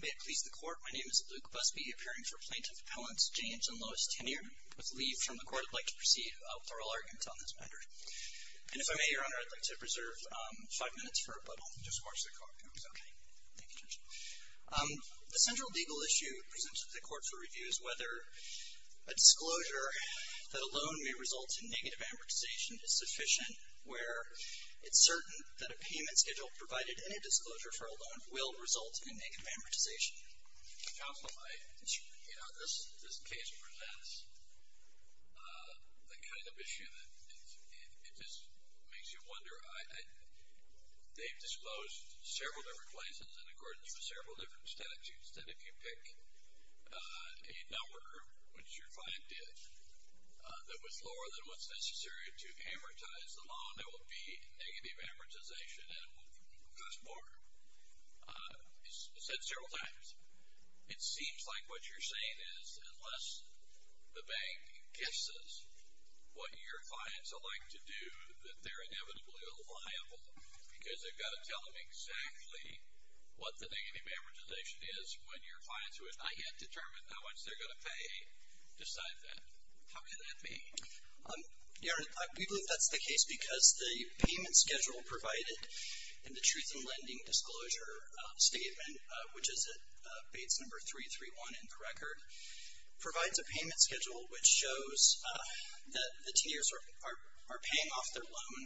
May it please the Court, my name is Luke Busby, appearing for Plaintiff Pellants James and Lois Tennier, with leave from the Court. I'd like to proceed with oral arguments on this matter. And if I may, Your Honor, I'd like to preserve five minutes for rebuttal. The central legal issue presented to the Court for review is whether a disclosure that alone may result in negative amortization is sufficient where it's certain that a payment schedule provided in a will result in negative amortization. Counselor, this case presents the kind of issue that makes you wonder. They've disclosed several different places and according to several different statutes that if you pick a number, which your client did, that was lower than what's necessary to amortize the loan, there will be negative amortization and it will cost more. It's said several times. It seems like what you're saying is, unless the bank guesses what your clients would like to do, that they're inevitably liable because they've got to tell them exactly what the negative amortization is when your clients, who have not yet determined how much they're going to pay, decide that. How can that be? Your Honor, we believe that's the case because the payment schedule provided in the Truth in Lending Disclosure Statement, which is at Bates No. 331 in the record, provides a payment schedule which shows that the tenures are paying off their loan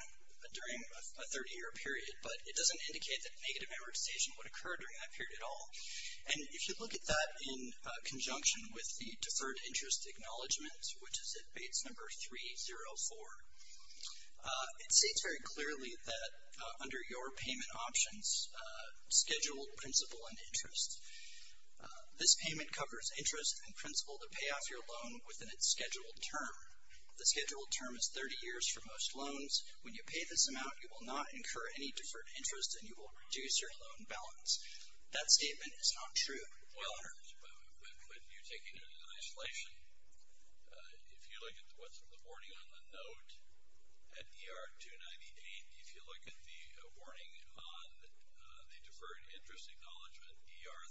during a 30-year period, but it doesn't indicate that negative amortization would occur during that period at all. And if you look at that in conjunction with the Deferred Interest Acknowledgement, which is at Bates No. 304, it states very clearly that under your payment options, scheduled, principal, and interest, this payment covers interest and principal to pay off your loan within its scheduled term. The scheduled term is 30 years for most loans. When you pay this amount, you will not incur any deferred interest and you will reduce your loan balance. That statement is not true, Your Honor. But when you're taking it in isolation, if you look at what's in the warning on the note at ER 298, if you look at the warning on the Deferred Interest Acknowledgement, ER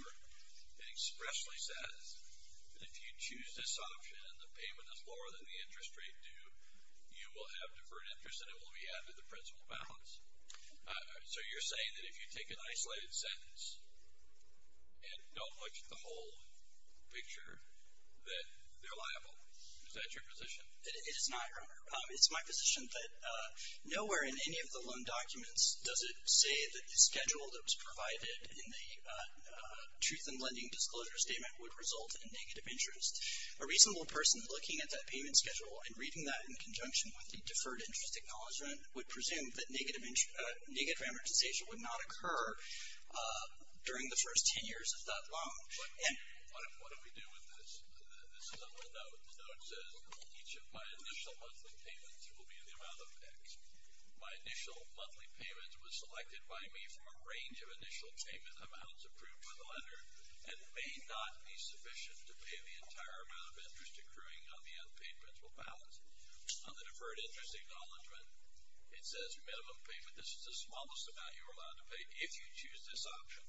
304, it expressly says that if you choose this option and the payment is lower than the interest rate due, you will have deferred interest and it will be added to the principal balance. So you're saying that if you take an isolated sentence and don't look at the whole picture, that they're liable. Is that your position? It is not, Your Honor. It's my position that nowhere in any of the loan documents does it say that the schedule that was provided in the Truth in Lending Disclosure Statement would result in negative interest. A reasonable person looking at that payment schedule and reading that in conjunction with the Deferred Interest Acknowledgement would presume that negative amortization would not occur during the first 10 years of that loan. What do we do with this? This is on the note. The note says, each of my initial monthly payments will be in the amount of X. My initial monthly payments was selected by me from a range of initial payment amounts approved by the lender and may not be sufficient to pay the entire amount of interest accruing on the unpaid principal balance. On the Deferred Interest Acknowledgement, it says minimum payment. This is the smallest amount you are allowed to pay if you choose this option.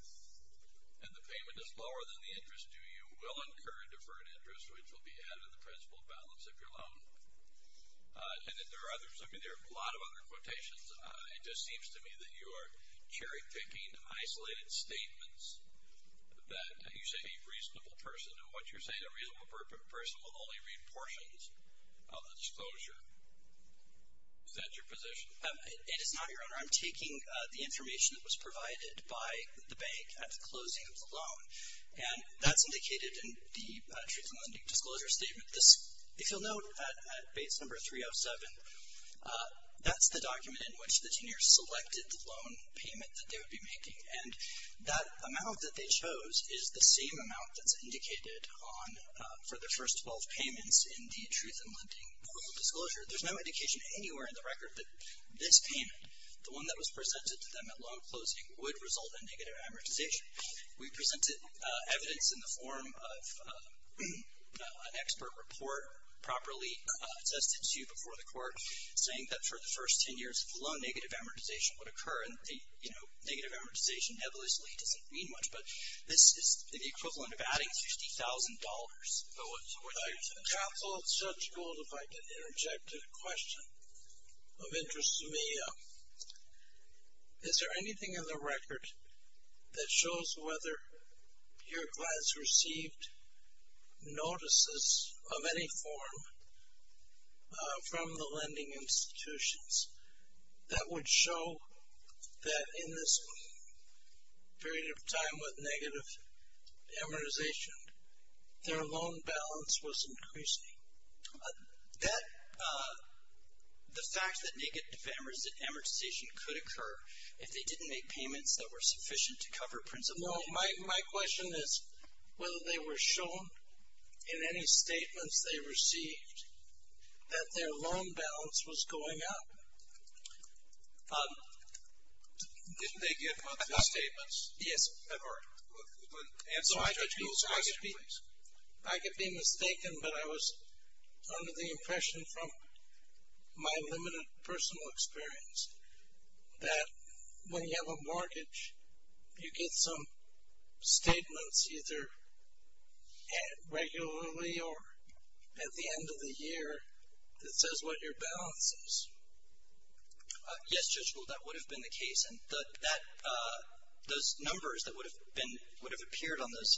And the payment is lower than the interest due, you will incur a deferred interest, which will be added to the principal balance of your loan. And then there are others. I mean, there are a lot of other quotations. It just seems to me that you are cherry-picking isolated statements that you say a reasonable person. And what you're saying, a reasonable person will only read portions of the disclosure. Is that your position? No, it is not, Your Honor. I'm taking the information that was provided by the bank at the closing of the loan. And that's indicated in the Truth in Lending Disclosure Statement. If you'll note, at base number 307, that's the document in which the tenures selected the loan payment that they would be making. And that amount that they chose is the same amount that's indicated for the first 12 payments in the Truth in Lending Disclosure. There's no indication anywhere in the record that this payment, the one that was presented to them at loan closing, would result in negative amortization. We presented evidence in the form of an expert report, properly attested to before the court, saying that for the first ten years, low negative amortization would occur. And, you know, negative amortization heavily doesn't mean much, but this is the equivalent of adding $50,000. Counsel, it's Judge Gould, if I could interject a question of interest to me. Is there anything in the record that shows whether your clients received notices of any form from the lending institutions that would show that in this period of time with negative amortization, their loan balance was increasing? That, the fact that negative amortization could occur if they didn't make payments that were sufficient to cover principal. No, my question is whether they were shown in any statements they received that their loan balance was going up. Did they give monthly statements? Yes. All right. I could be mistaken, but I was under the impression from my limited personal experience that when you have a mortgage, you get some statements either regularly or at the end of the year that says what your balance is. Yes, Judge Gould, that would have been the case. And that, those numbers that would have been, would have appeared on those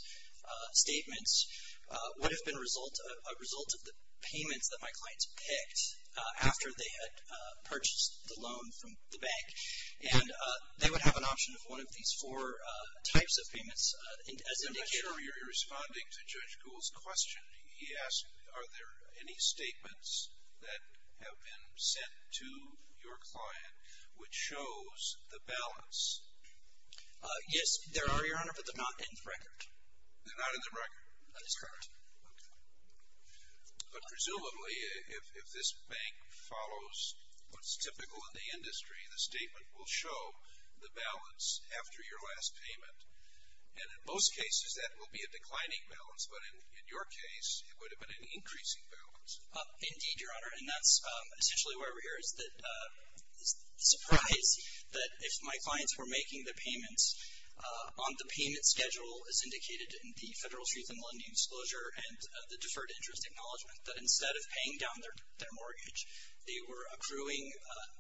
statements would have been a result of the payments that my clients picked after they had purchased the loan from the bank. And they would have an option of one of these four types of payments as indicated. I'm sure you're responding to Judge Gould's question. He asked, are there any statements that have been sent to your client which shows the balance? Yes, there are, Your Honor, but they're not in the record. They're not in the record? That is correct. Okay. But presumably, if this bank follows what's typical in the industry, the statement will show the balance after your last payment. And in most cases, that will be a declining balance. But in your case, it would have been an increasing balance. Indeed, Your Honor. And that's essentially why we're here, is the surprise that if my clients were making the payments on the payment schedule as indicated in the Federal Truth in Lending Disclosure and the Deferred Interest Acknowledgement, that instead of paying down their mortgage, they were accruing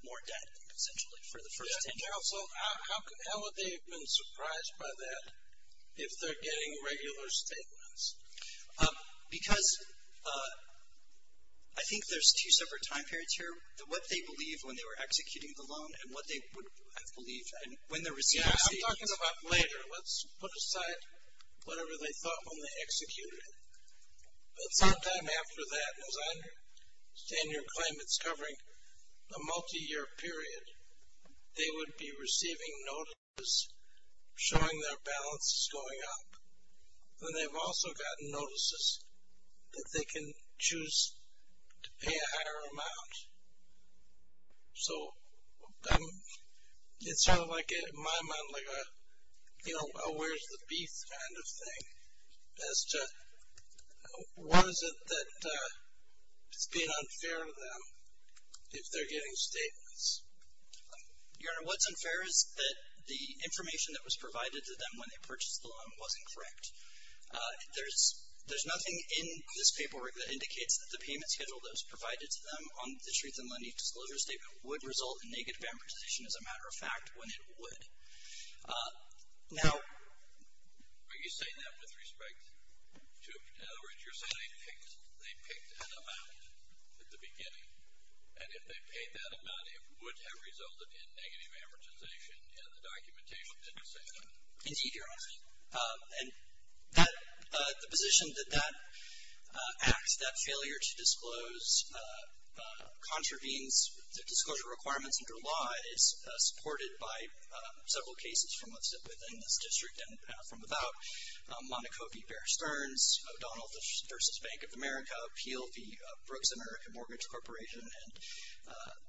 more debt, essentially, for the first 10 years. So how would they have been surprised by that if they're getting regular statements? Because I think there's two separate time periods here, what they believe when they were executing the loan and what they would have believed when the receipts came in. Yeah, I'm talking about later. Let's put aside whatever they thought when they executed it. But sometime after that, as I understand your claim, it's covering a multi-year period. They would be receiving notices showing their balance is going up. And they've also gotten notices that they can choose to pay a higher amount. So it's sort of like, in my mind, like a where's the beef kind of thing as to what is it that is being unfair to them if they're getting statements? Your Honor, what's unfair is that the information that was provided to them when they purchased the loan wasn't correct. There's nothing in this paperwork that indicates that the payment schedule that was provided to them on the Shreves and Lenny disclosure statement would result in negative amortization, as a matter of fact, when it would. Now… Are you saying that with respect to – in other words, you're saying they picked an amount at the beginning, and if they paid that amount, it would have resulted in negative amortization in the documentation that you're saying that? Indeed, Your Honor. And the position that that act, that failure to disclose, contravenes the disclosure requirements under law is supported by several cases from within this district and from without. Monaco v. Bear Stearns, O'Donnell v. Bank of America, Peel v. Brooks American Mortgage Corporation, and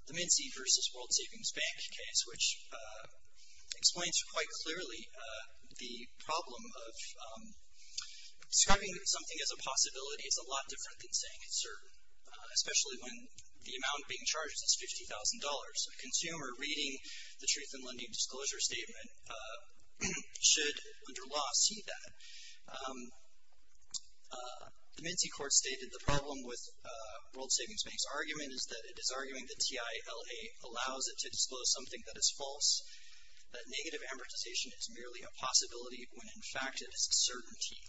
the Mincy v. World Savings Bank case, which explains quite clearly the problem of describing something as a possibility as a lot different than saying it's certain, especially when the amount being charged is $50,000. A consumer reading the Shreves and Lenny disclosure statement should, under law, see that. The Mincy court stated the problem with World Savings Bank's argument is that it is arguing the TILA allows it to disclose something that is false, that negative amortization is merely a possibility when, in fact, it is a certainty.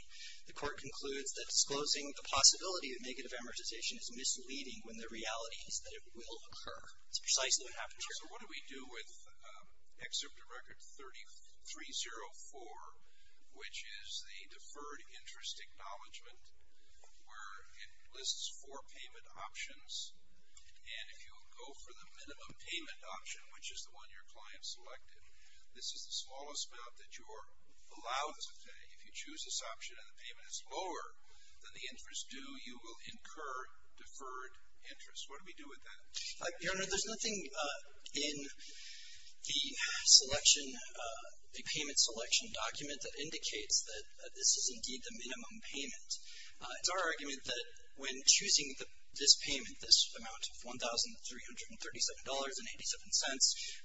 The court concludes that disclosing the possibility of negative amortization is misleading when the reality is that it will occur. It's precisely what happened here. So what do we do with Excerpt of Record 3304, which is the deferred interest acknowledgement, where it lists four payment options, and if you go for the minimum payment option, which is the one your client selected, this is the smallest amount that you are allowed to pay. If you choose this option and the payment is lower than the interest due, you will incur deferred interest. What do we do with that? Your Honor, there's nothing in the selection, the payment selection document, that indicates that this is indeed the minimum payment. It's our argument that when choosing this payment, this amount of $1,337.87,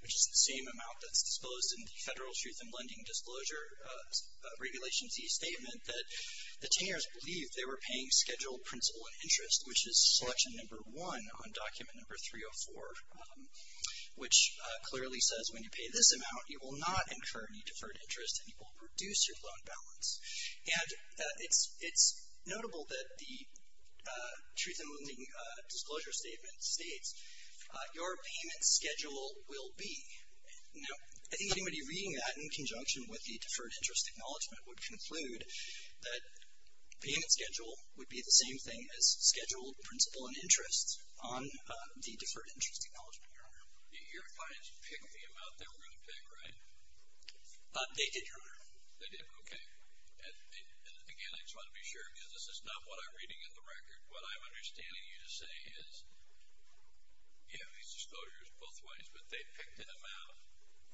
which is the same amount that's disposed in the Federal Truth in Lending Disclosure Regulation Z statement, that the tenors believed they were paying scheduled principal and interest, which is selection number one on document number 304, which clearly says when you pay this amount, you will not incur any deferred interest and you will reduce your loan balance. And it's notable that the Truth in Lending Disclosure Statement states, your payment schedule will be. Now, I think anybody reading that in conjunction with the deferred interest acknowledgement would conclude that payment schedule would be the same thing as scheduled principal and interest on the deferred interest acknowledgement, Your Honor. Your clients picked the amount they were going to pick, right? They did, Your Honor. They did, okay. And again, I just want to be sure because this is not what I'm reading in the record. What I'm understanding you to say is, you have these disclosures both ways, but they picked an amount,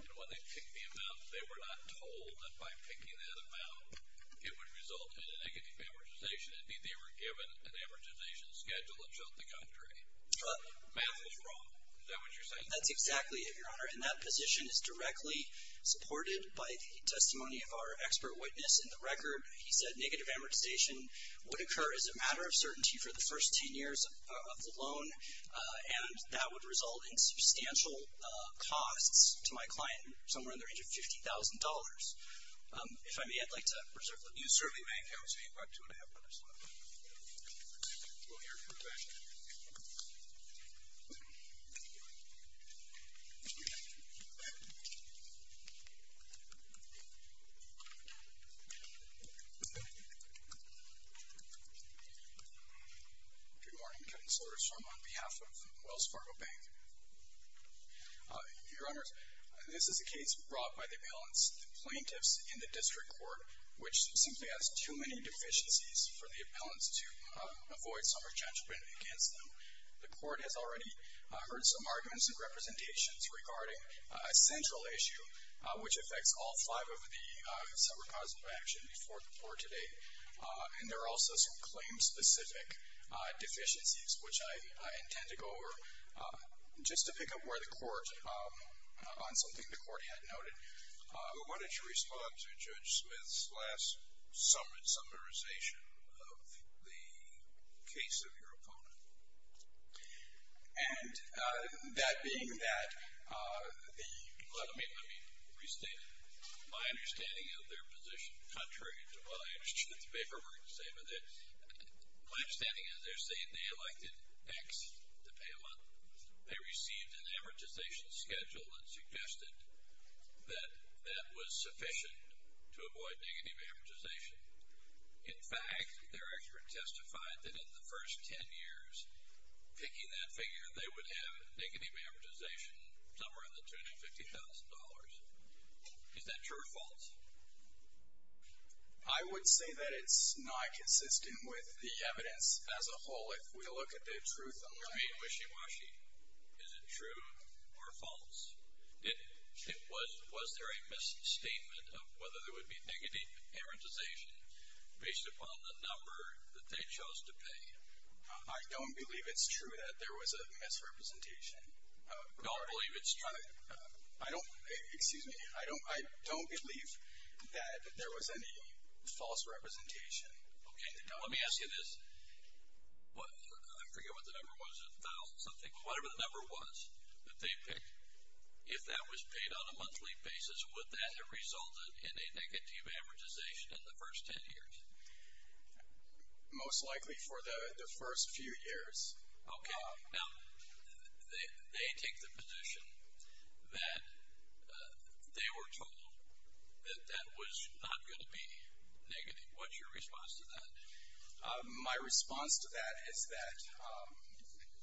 and when they picked the amount, they were not told that by picking that amount, it would result in a negative amortization. Indeed, they were given an amortization schedule that showed the country. Math is wrong. Is that what you're saying? That's exactly it, Your Honor. And that position is directly supported by the testimony of our expert witness in the record. He said negative amortization would occur as a matter of certainty for the first ten years of the loan, and that would result in substantial costs to my client, somewhere in the range of $50,000. If I may, I'd like to reserve the view. You certainly may, Counselor. You have about two and a half minutes left. We'll hear from the back. Good morning, Counselors. I'm on behalf of Wells Fargo Bank. Your Honors, this is a case brought by the appellant's plaintiffs in the district court, which simply has too many deficiencies for the appellants to avoid some re-judgment against them. The court has already heard some arguments and representations regarding a central issue, which affects all five of the separate causes of action before today. And there are also some claim-specific deficiencies, which I intend to go over. Just to pick up where the court, on something the court had noted, why don't you respond to Judge Smith's last summarization of the case of your opponent? And that being that, let me restate my understanding of their position. Contrary to what I understood the paperwork to say, my understanding is they're saying they elected X, the appellant. They received an amortization schedule that suggested that that was sufficient to avoid negative amortization. In fact, their expert testified that in the first 10 years picking that figure, they would have negative amortization somewhere in the tune of $50,000. Is that true or false? I would say that it's not consistent with the evidence as a whole. I mean, wishy-washy. Is it true or false? Was there a misstatement of whether there would be negative amortization based upon the number that they chose to pay? I don't believe it's true that there was a misrepresentation. Don't believe it's true? I don't believe that there was any false representation. Okay. Now, let me ask you this. I forget what the number was, a thousand-something. Whatever the number was that they picked, if that was paid on a monthly basis, would that have resulted in a negative amortization in the first 10 years? Most likely for the first few years. Okay. Now, they take the position that they were told that that was not going to be negative. What's your response to that? My response to that is that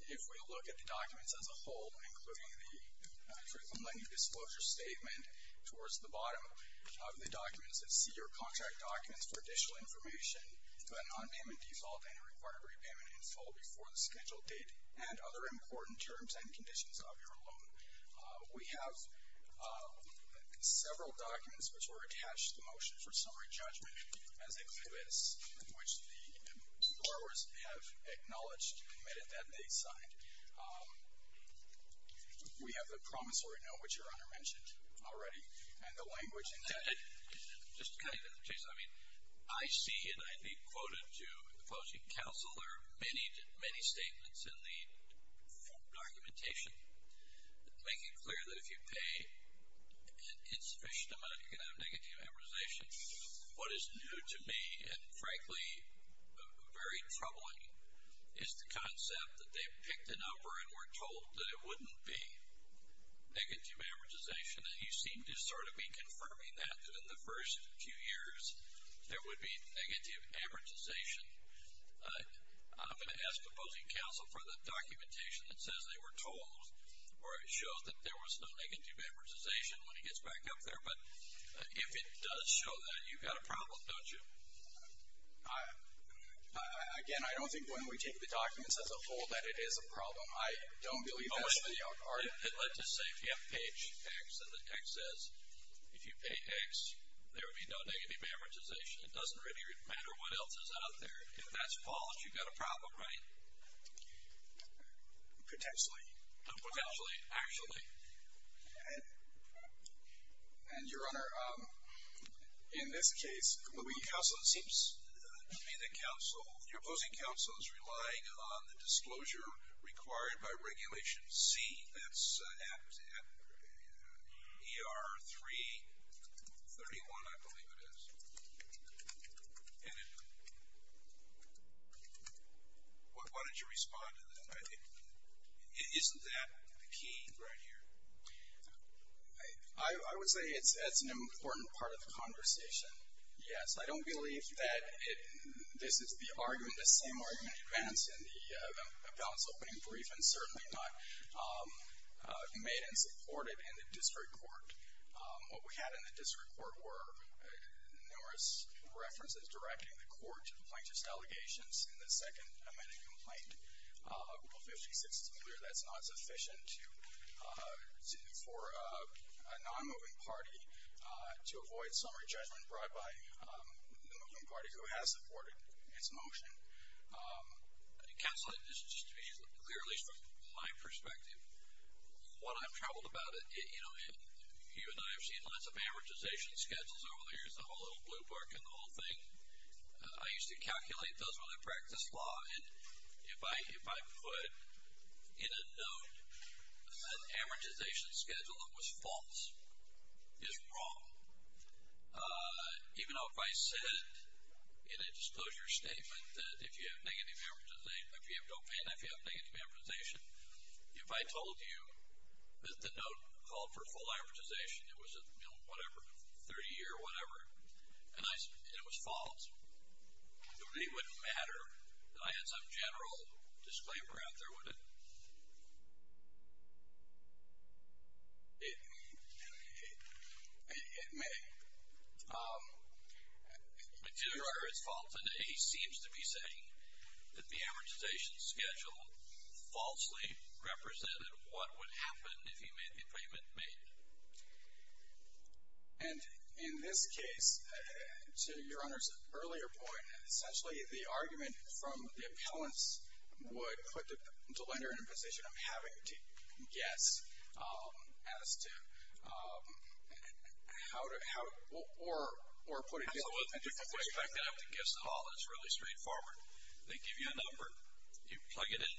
if we look at the documents as a whole, including the Truth in Lending Disclosure Statement towards the bottom of the documents that see your contract documents for additional information to a non-payment default and a required repayment in full before the scheduled date and other important terms and conditions of your loan, we have several documents which were attached to the Motion for Summary Judgment as it exists, which the borrowers have acknowledged and admitted that they signed. We have the promissory note, which your Honor mentioned already, and the language intended. Just to kind of change that. I mean, I see, and I think quoted to the closing counsel, there are many, many statements in the documentation that make it clear that if you pay an insufficient amount, you're going to have negative amortization. What is new to me and, frankly, very troubling is the concept that they picked an number and were told that it wouldn't be negative amortization, and you seem to sort of be confirming that, in the first few years, there would be negative amortization. I'm going to ask the closing counsel for the documentation that says they were told or it shows that there was no negative amortization when it gets back up there, but if it does show that, you've got a problem, don't you? Again, I don't think when we take the documents as a whole that it is a problem. I don't believe that. It led to say if you have page X and the X says if you pay X, there would be no negative amortization. It doesn't really matter what else is out there. If that's false, you've got a problem, right? Potentially. Potentially, actually. And, Your Honor, in this case, the closing counsel seems to be the counsel. Your opposing counsel is relying on the disclosure required by Regulation C. That's at ER 331, I believe it is. And why don't you respond to that? Isn't that the key right here? I would say that's an important part of the conversation, yes. I don't believe that this is the argument, the same argument advanced in the balance opening brief and certainly not made and supported in the district court. What we had in the district court were numerous references directing the court to the plaintiff's allegations in the second amended complaint. Rule 56 is clear that's not sufficient for a non-moving party to avoid summary judgment brought by a non-moving party who has supported its motion. Counsel, just to be clear, at least from my perspective, while I've traveled about it, you know, you and I have seen lots of amortization schedules over the years. I'm a little blue book in the whole thing. I used to calculate those when I practiced law, and if I put in a note an amortization schedule that was false is wrong. Even though if I said in a disclosure statement that if you have negative amortization, if you have dopamine, if you have negative amortization, if I told you that the note called for full amortization, it was a, you know, whatever, 30-year whatever, and it was false, it really wouldn't matter that I had some general disclaimer out there, would it? It may. But to your Honor, it's false, and he seems to be saying that the amortization schedule falsely represented what would happen if he made the appointment made. And in this case, to your Honor's earlier point, essentially the argument from the appellants would put the lender in a position of having to guess as to how to, or put it into perspective. The fact that I have to guess at all is really straightforward. They give you a number. You plug it in.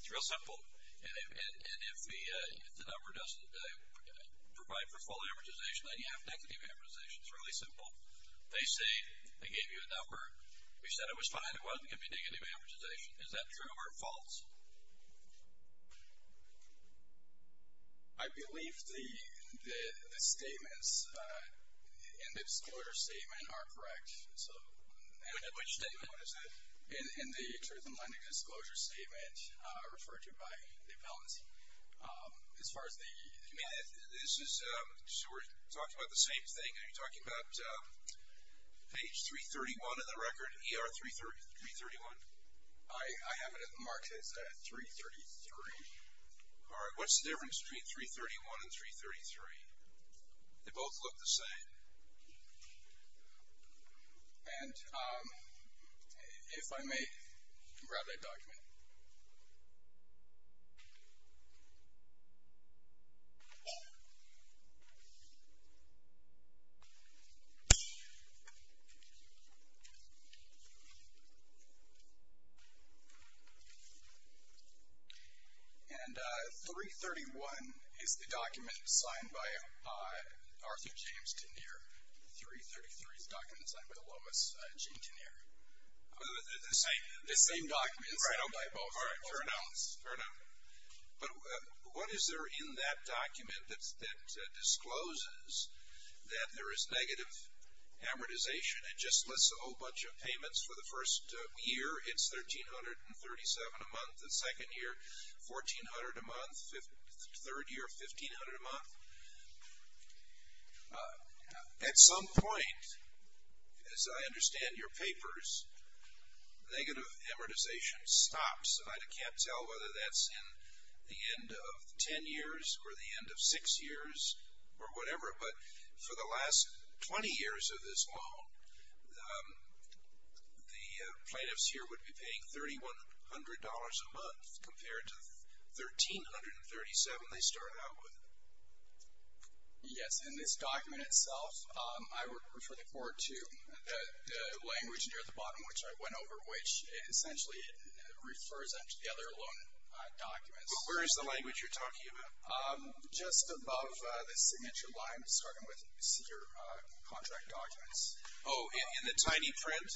It's real simple. And if the number doesn't provide for full amortization, then you have negative amortization. It's really simple. They say they gave you a number. You said it was fine. It wasn't going to be negative amortization. Is that true or false? I believe the statements in the disclosure statement are correct. Which statement? What is it? In the truth in lending disclosure statement referred to by the appellants. As far as the? You mean this is, so we're talking about the same thing. Are you talking about page 331 of the record, ER331? I have it marked as 333. All right. What's the difference between 331 and 333? They both look the same. And if I may, grab that document. And 331 is the document signed by Arthur James Tenier. 333 is the document signed by Lomas James Tenier. The same document signed by both. All right. Fair enough. Fair enough. But what is there in that document that discloses that there is negative amortization? It just lists a whole bunch of payments for the first year. It's 1,337 a month. The second year, 1,400 a month. Third year, 1,500 a month. At some point, as I understand your papers, negative amortization stops. And I can't tell whether that's in the end of ten years or the end of six years or whatever. But for the last 20 years of this loan, the plaintiffs here would be paying $3,100 a month. Compared to 1,337 they start out with. Yes. In this document itself, I would refer the court to the language near the bottom, which I went over, which essentially refers them to the other loan documents. But where is the language you're talking about? Just above the signature line, starting with senior contract documents. Oh, in the tiny print?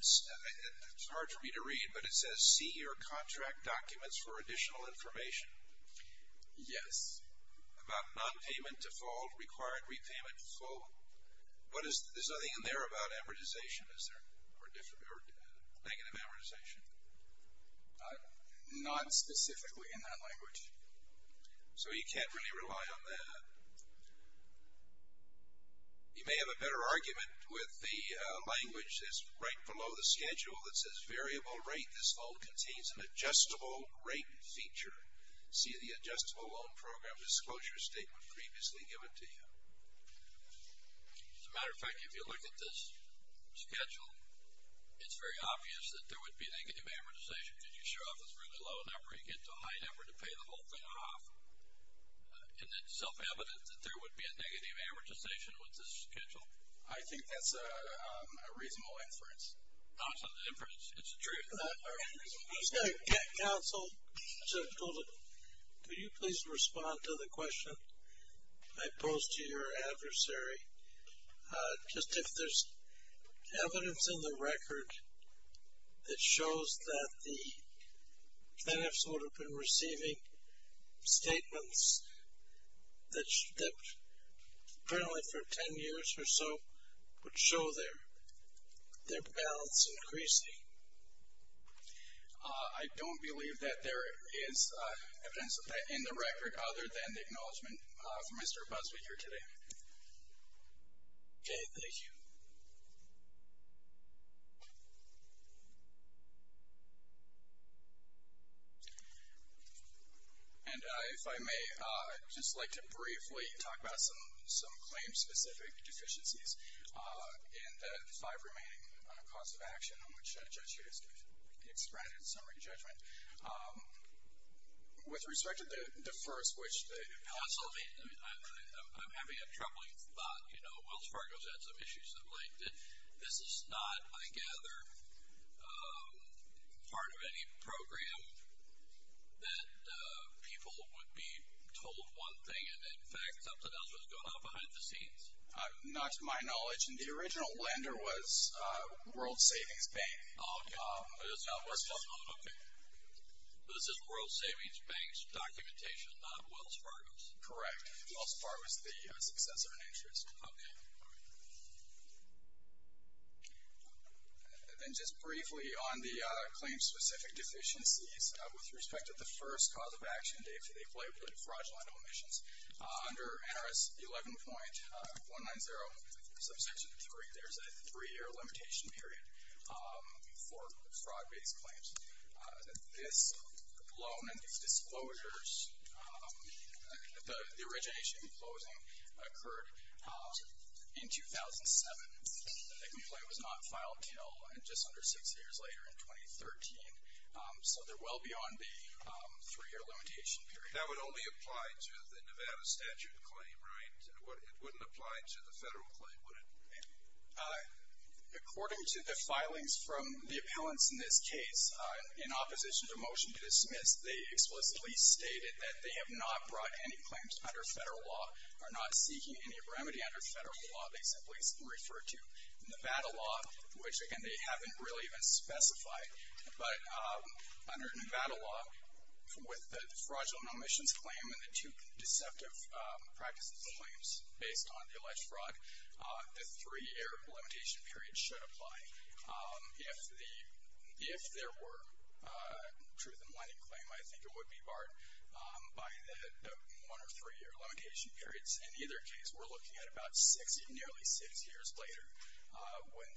It's hard for me to read, but it says senior contract documents for additional information. Yes. About nonpayment default, required repayment default. There's nothing in there about amortization, is there, or negative amortization? Not specifically in that language. So you can't really rely on that. You may have a better argument with the language that's right below the schedule that says variable rate. This loan contains an adjustable rate feature. See the adjustable loan program disclosure statement previously given to you. As a matter of fact, if you look at this schedule, it's very obvious that there would be negative amortization, because you show up with a really low number, you get to a high number to pay the whole thing off. And it's self-evident that there would be a negative amortization with this schedule. I think that's a reasonable inference. It's true. Counsel, could you please respond to the question I posed to your adversary? Just if there's evidence in the record that shows that the finance would have been receiving statements that, apparently for ten years or so, would show their balance increasing. I don't believe that there is evidence of that in the record, other than the acknowledgement from Mr. Busbee here today. Okay, thank you. And if I may, I'd just like to briefly talk about some claim-specific deficiencies in the five remaining costs of action on which a judge here is to be expressed in summary judgment. With respect to the first, which the counsel made, I'm having a troubling thought. You know, Wells Fargo's had some issues of late. This is not, I gather, part of any program that people would be told one thing and, in fact, something else was going on behind the scenes. Not to my knowledge. And the original lender was World Savings Bank. Oh, okay. This is World Savings Bank's documentation, not Wells Fargo's. Correct. Wells Fargo is the successor in interest. Okay. And then just briefly on the claim-specific deficiencies, with respect to the first cause of action, they play with fraudulent omissions. Under NRS 11.190, subsection three, there's a three-year limitation period for fraud-based claims. This loan and these disclosures, the origination and closing, occurred in 2007. The complaint was not filed until just under six years later in 2013. So they're well beyond the three-year limitation period. That would only apply to the Nevada statute claim, right? It wouldn't apply to the Federal claim, would it? According to the filings from the appellants in this case, in opposition to motion to dismiss, they explicitly stated that they have not brought any claims under Federal law, are not seeking any remedy under Federal law. They simply refer to Nevada law, which, again, they haven't really even specified. But under Nevada law, with the fraudulent omissions claim and the two deceptive practices claims based on the alleged fraud, the three-year limitation period should apply. If there were a truth-in-winding claim, I think it would be barred by the one- or three-year limitation periods. In either case, we're looking at about six, nearly six years later, when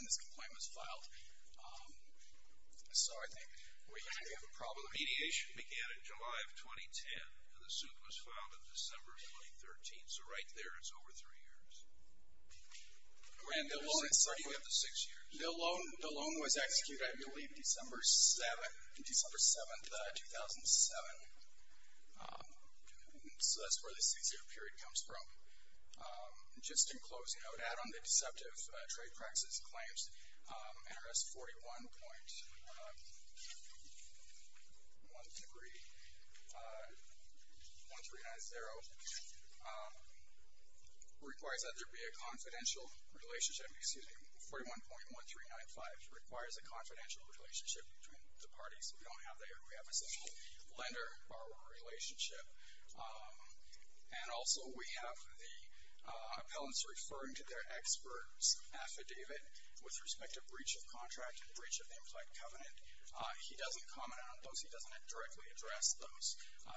this complaint was filed. So I think we have a problem here. Mediation began in July of 2010. The suit was filed in December of 2013. So right there is over three years. And the loan is starting at the six years. The loan was executed, I believe, December 7th, 2007. So that's where the six-year period comes from. Just in closing, I would add on the deceptive trade practices claims, NRS 41.1390 requires that there be a confidential relationship. Excuse me, 41.1395 requires a confidential relationship between the parties. We don't have that here. We have a simple lender-borrower relationship. And also we have the appellants referring to their expert's affidavit with respect to breach of contract and breach of the implied covenant. He doesn't comment on those. He doesn't directly address those.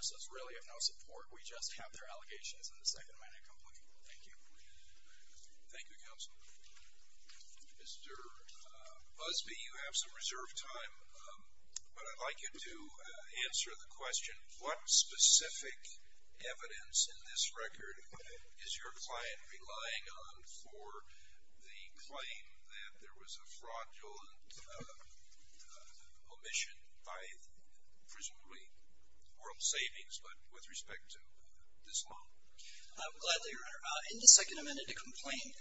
So it's really of no support. We just have their allegations in the second manner complaint. Thank you. Thank you, Counsel. Mr. Busby, you have some reserved time, but I'd like you to answer the question. What specific evidence in this record is your client relying on for the claim that there was a fraudulent omission by presumably World Savings, but with respect to this loan? Gladly, Your Honor. In the second amended complaint,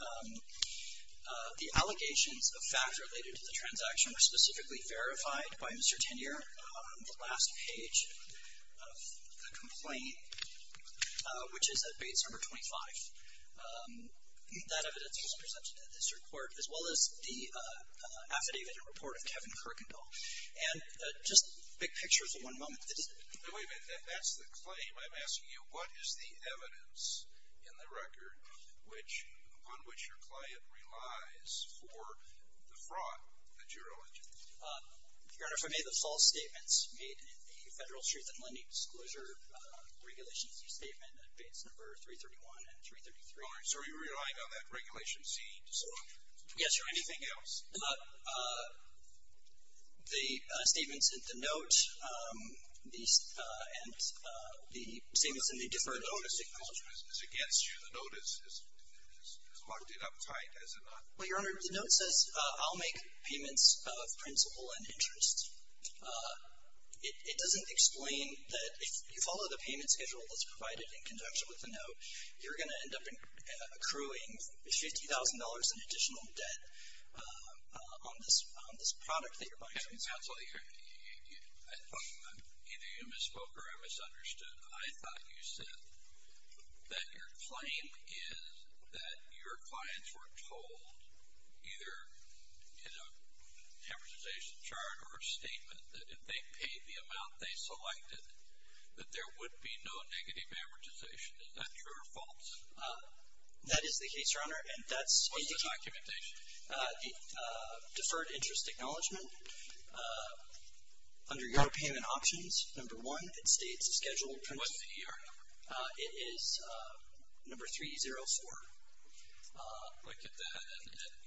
the allegations of fact related to the transaction were specifically verified by Mr. Tenier on the last page of the complaint, which is at base number 25. That evidence was presented in this report, as well as the affidavit and report of Kevin Kirkendall. And just big pictures in one moment. Wait a minute. That's the claim. I'm asking you what is the evidence in the record upon which your client relies for the fraud that you're alleging? Your Honor, if I may, the false statements made in the Federal Truth in Lending Disclosure Regulations Statement at base number 331 and 333. So are you relying on that Regulation C disclosure? Yes, Your Honor. Anything else? The statements in the note and the statements in the deferred notice acknowledgment. The deferred notice acknowledgment is against you. The note is locked in uptight, is it not? Well, Your Honor, the note says I'll make payments of principal and interest. It doesn't explain that if you follow the payment schedule that's provided in conjunction with the note, you're going to end up accruing $50,000 in additional debt on this product that you're buying. Counsel, either you misspoke or I misunderstood. I thought you said that your claim is that your clients were told, either in a amortization chart or a statement, that if they paid the amount they selected, that there would be no negative amortization. Is that true or false? That is the case, Your Honor. What's the documentation? Deferred interest acknowledgment. Under your payment options, number one, it states the schedule. What's the ER number? It is number 304. Look at that.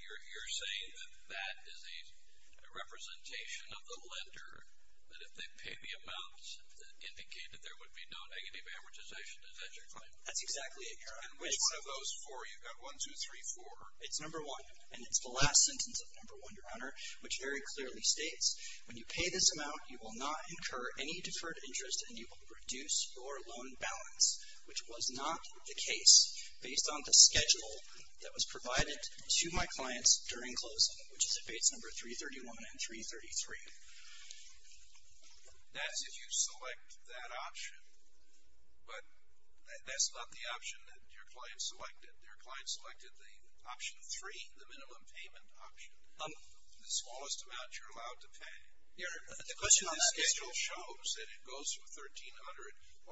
You're saying that that is a representation of the lender, that if they pay the amount that indicated there would be no negative amortization. Is that your claim? That's exactly it, Your Honor. And which one of those four? You've got one, two, three, four. It's number one, and it's the last sentence of number one, Your Honor, which very clearly states when you pay this amount, you will not incur any deferred interest and you will reduce your loan balance, which was not the case based on the schedule that was provided to my clients during closing, which is at base number 331 and 333. That's if you select that option. But that's not the option that your client selected. The option three, the minimum payment option, the smallest amount you're allowed to pay. Your Honor, the question on that is. The schedule shows that it goes from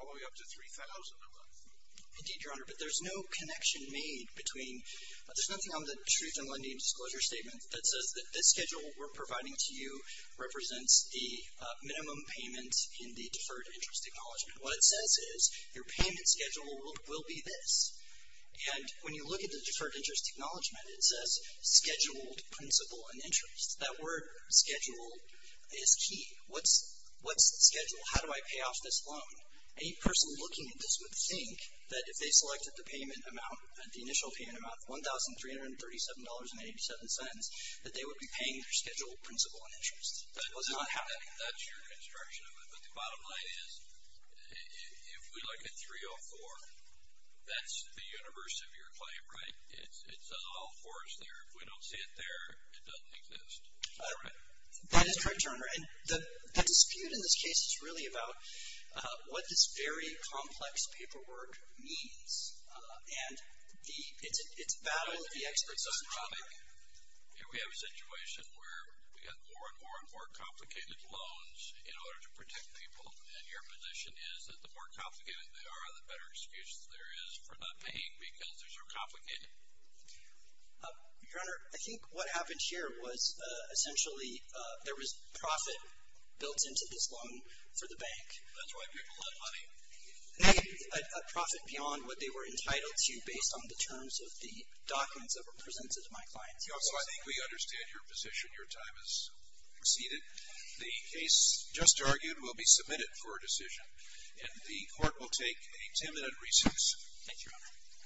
1,300 all the way up to 3,000 a month. Indeed, Your Honor, but there's no connection made between. There's nothing on the Truth in Lending Disclosure Statement that says that this schedule we're providing to you represents the minimum payment in the deferred interest acknowledgement. What it says is your payment schedule will be this. And when you look at the deferred interest acknowledgement, it says scheduled principal and interest. That word schedule is key. What's the schedule? How do I pay off this loan? Any person looking at this would think that if they selected the payment amount, the initial payment amount of $1,337.87, that they would be paying their scheduled principal and interest. That does not happen. That's your construction of it. But the bottom line is, if we look at 304, that's the universe of your claim, right? It says all four is there. If we don't see it there, it doesn't exist. Is that right? That is correct, Your Honor. And the dispute in this case is really about what this very complex paperwork means. And it's a battle of the experts. It's uncommon. Here we have a situation where we have more and more and more complicated loans in order to protect people. And your position is that the more complicated they are, the better excuse there is for not paying because they're so complicated? Your Honor, I think what happened here was essentially there was profit built into this loan for the bank. That's why people have money. A profit beyond what they were entitled to based on the terms of the documents that were presented to my clients. So I think we understand your position. Your time has exceeded. The case just argued will be submitted for a decision, and the court will take a ten-minute recess.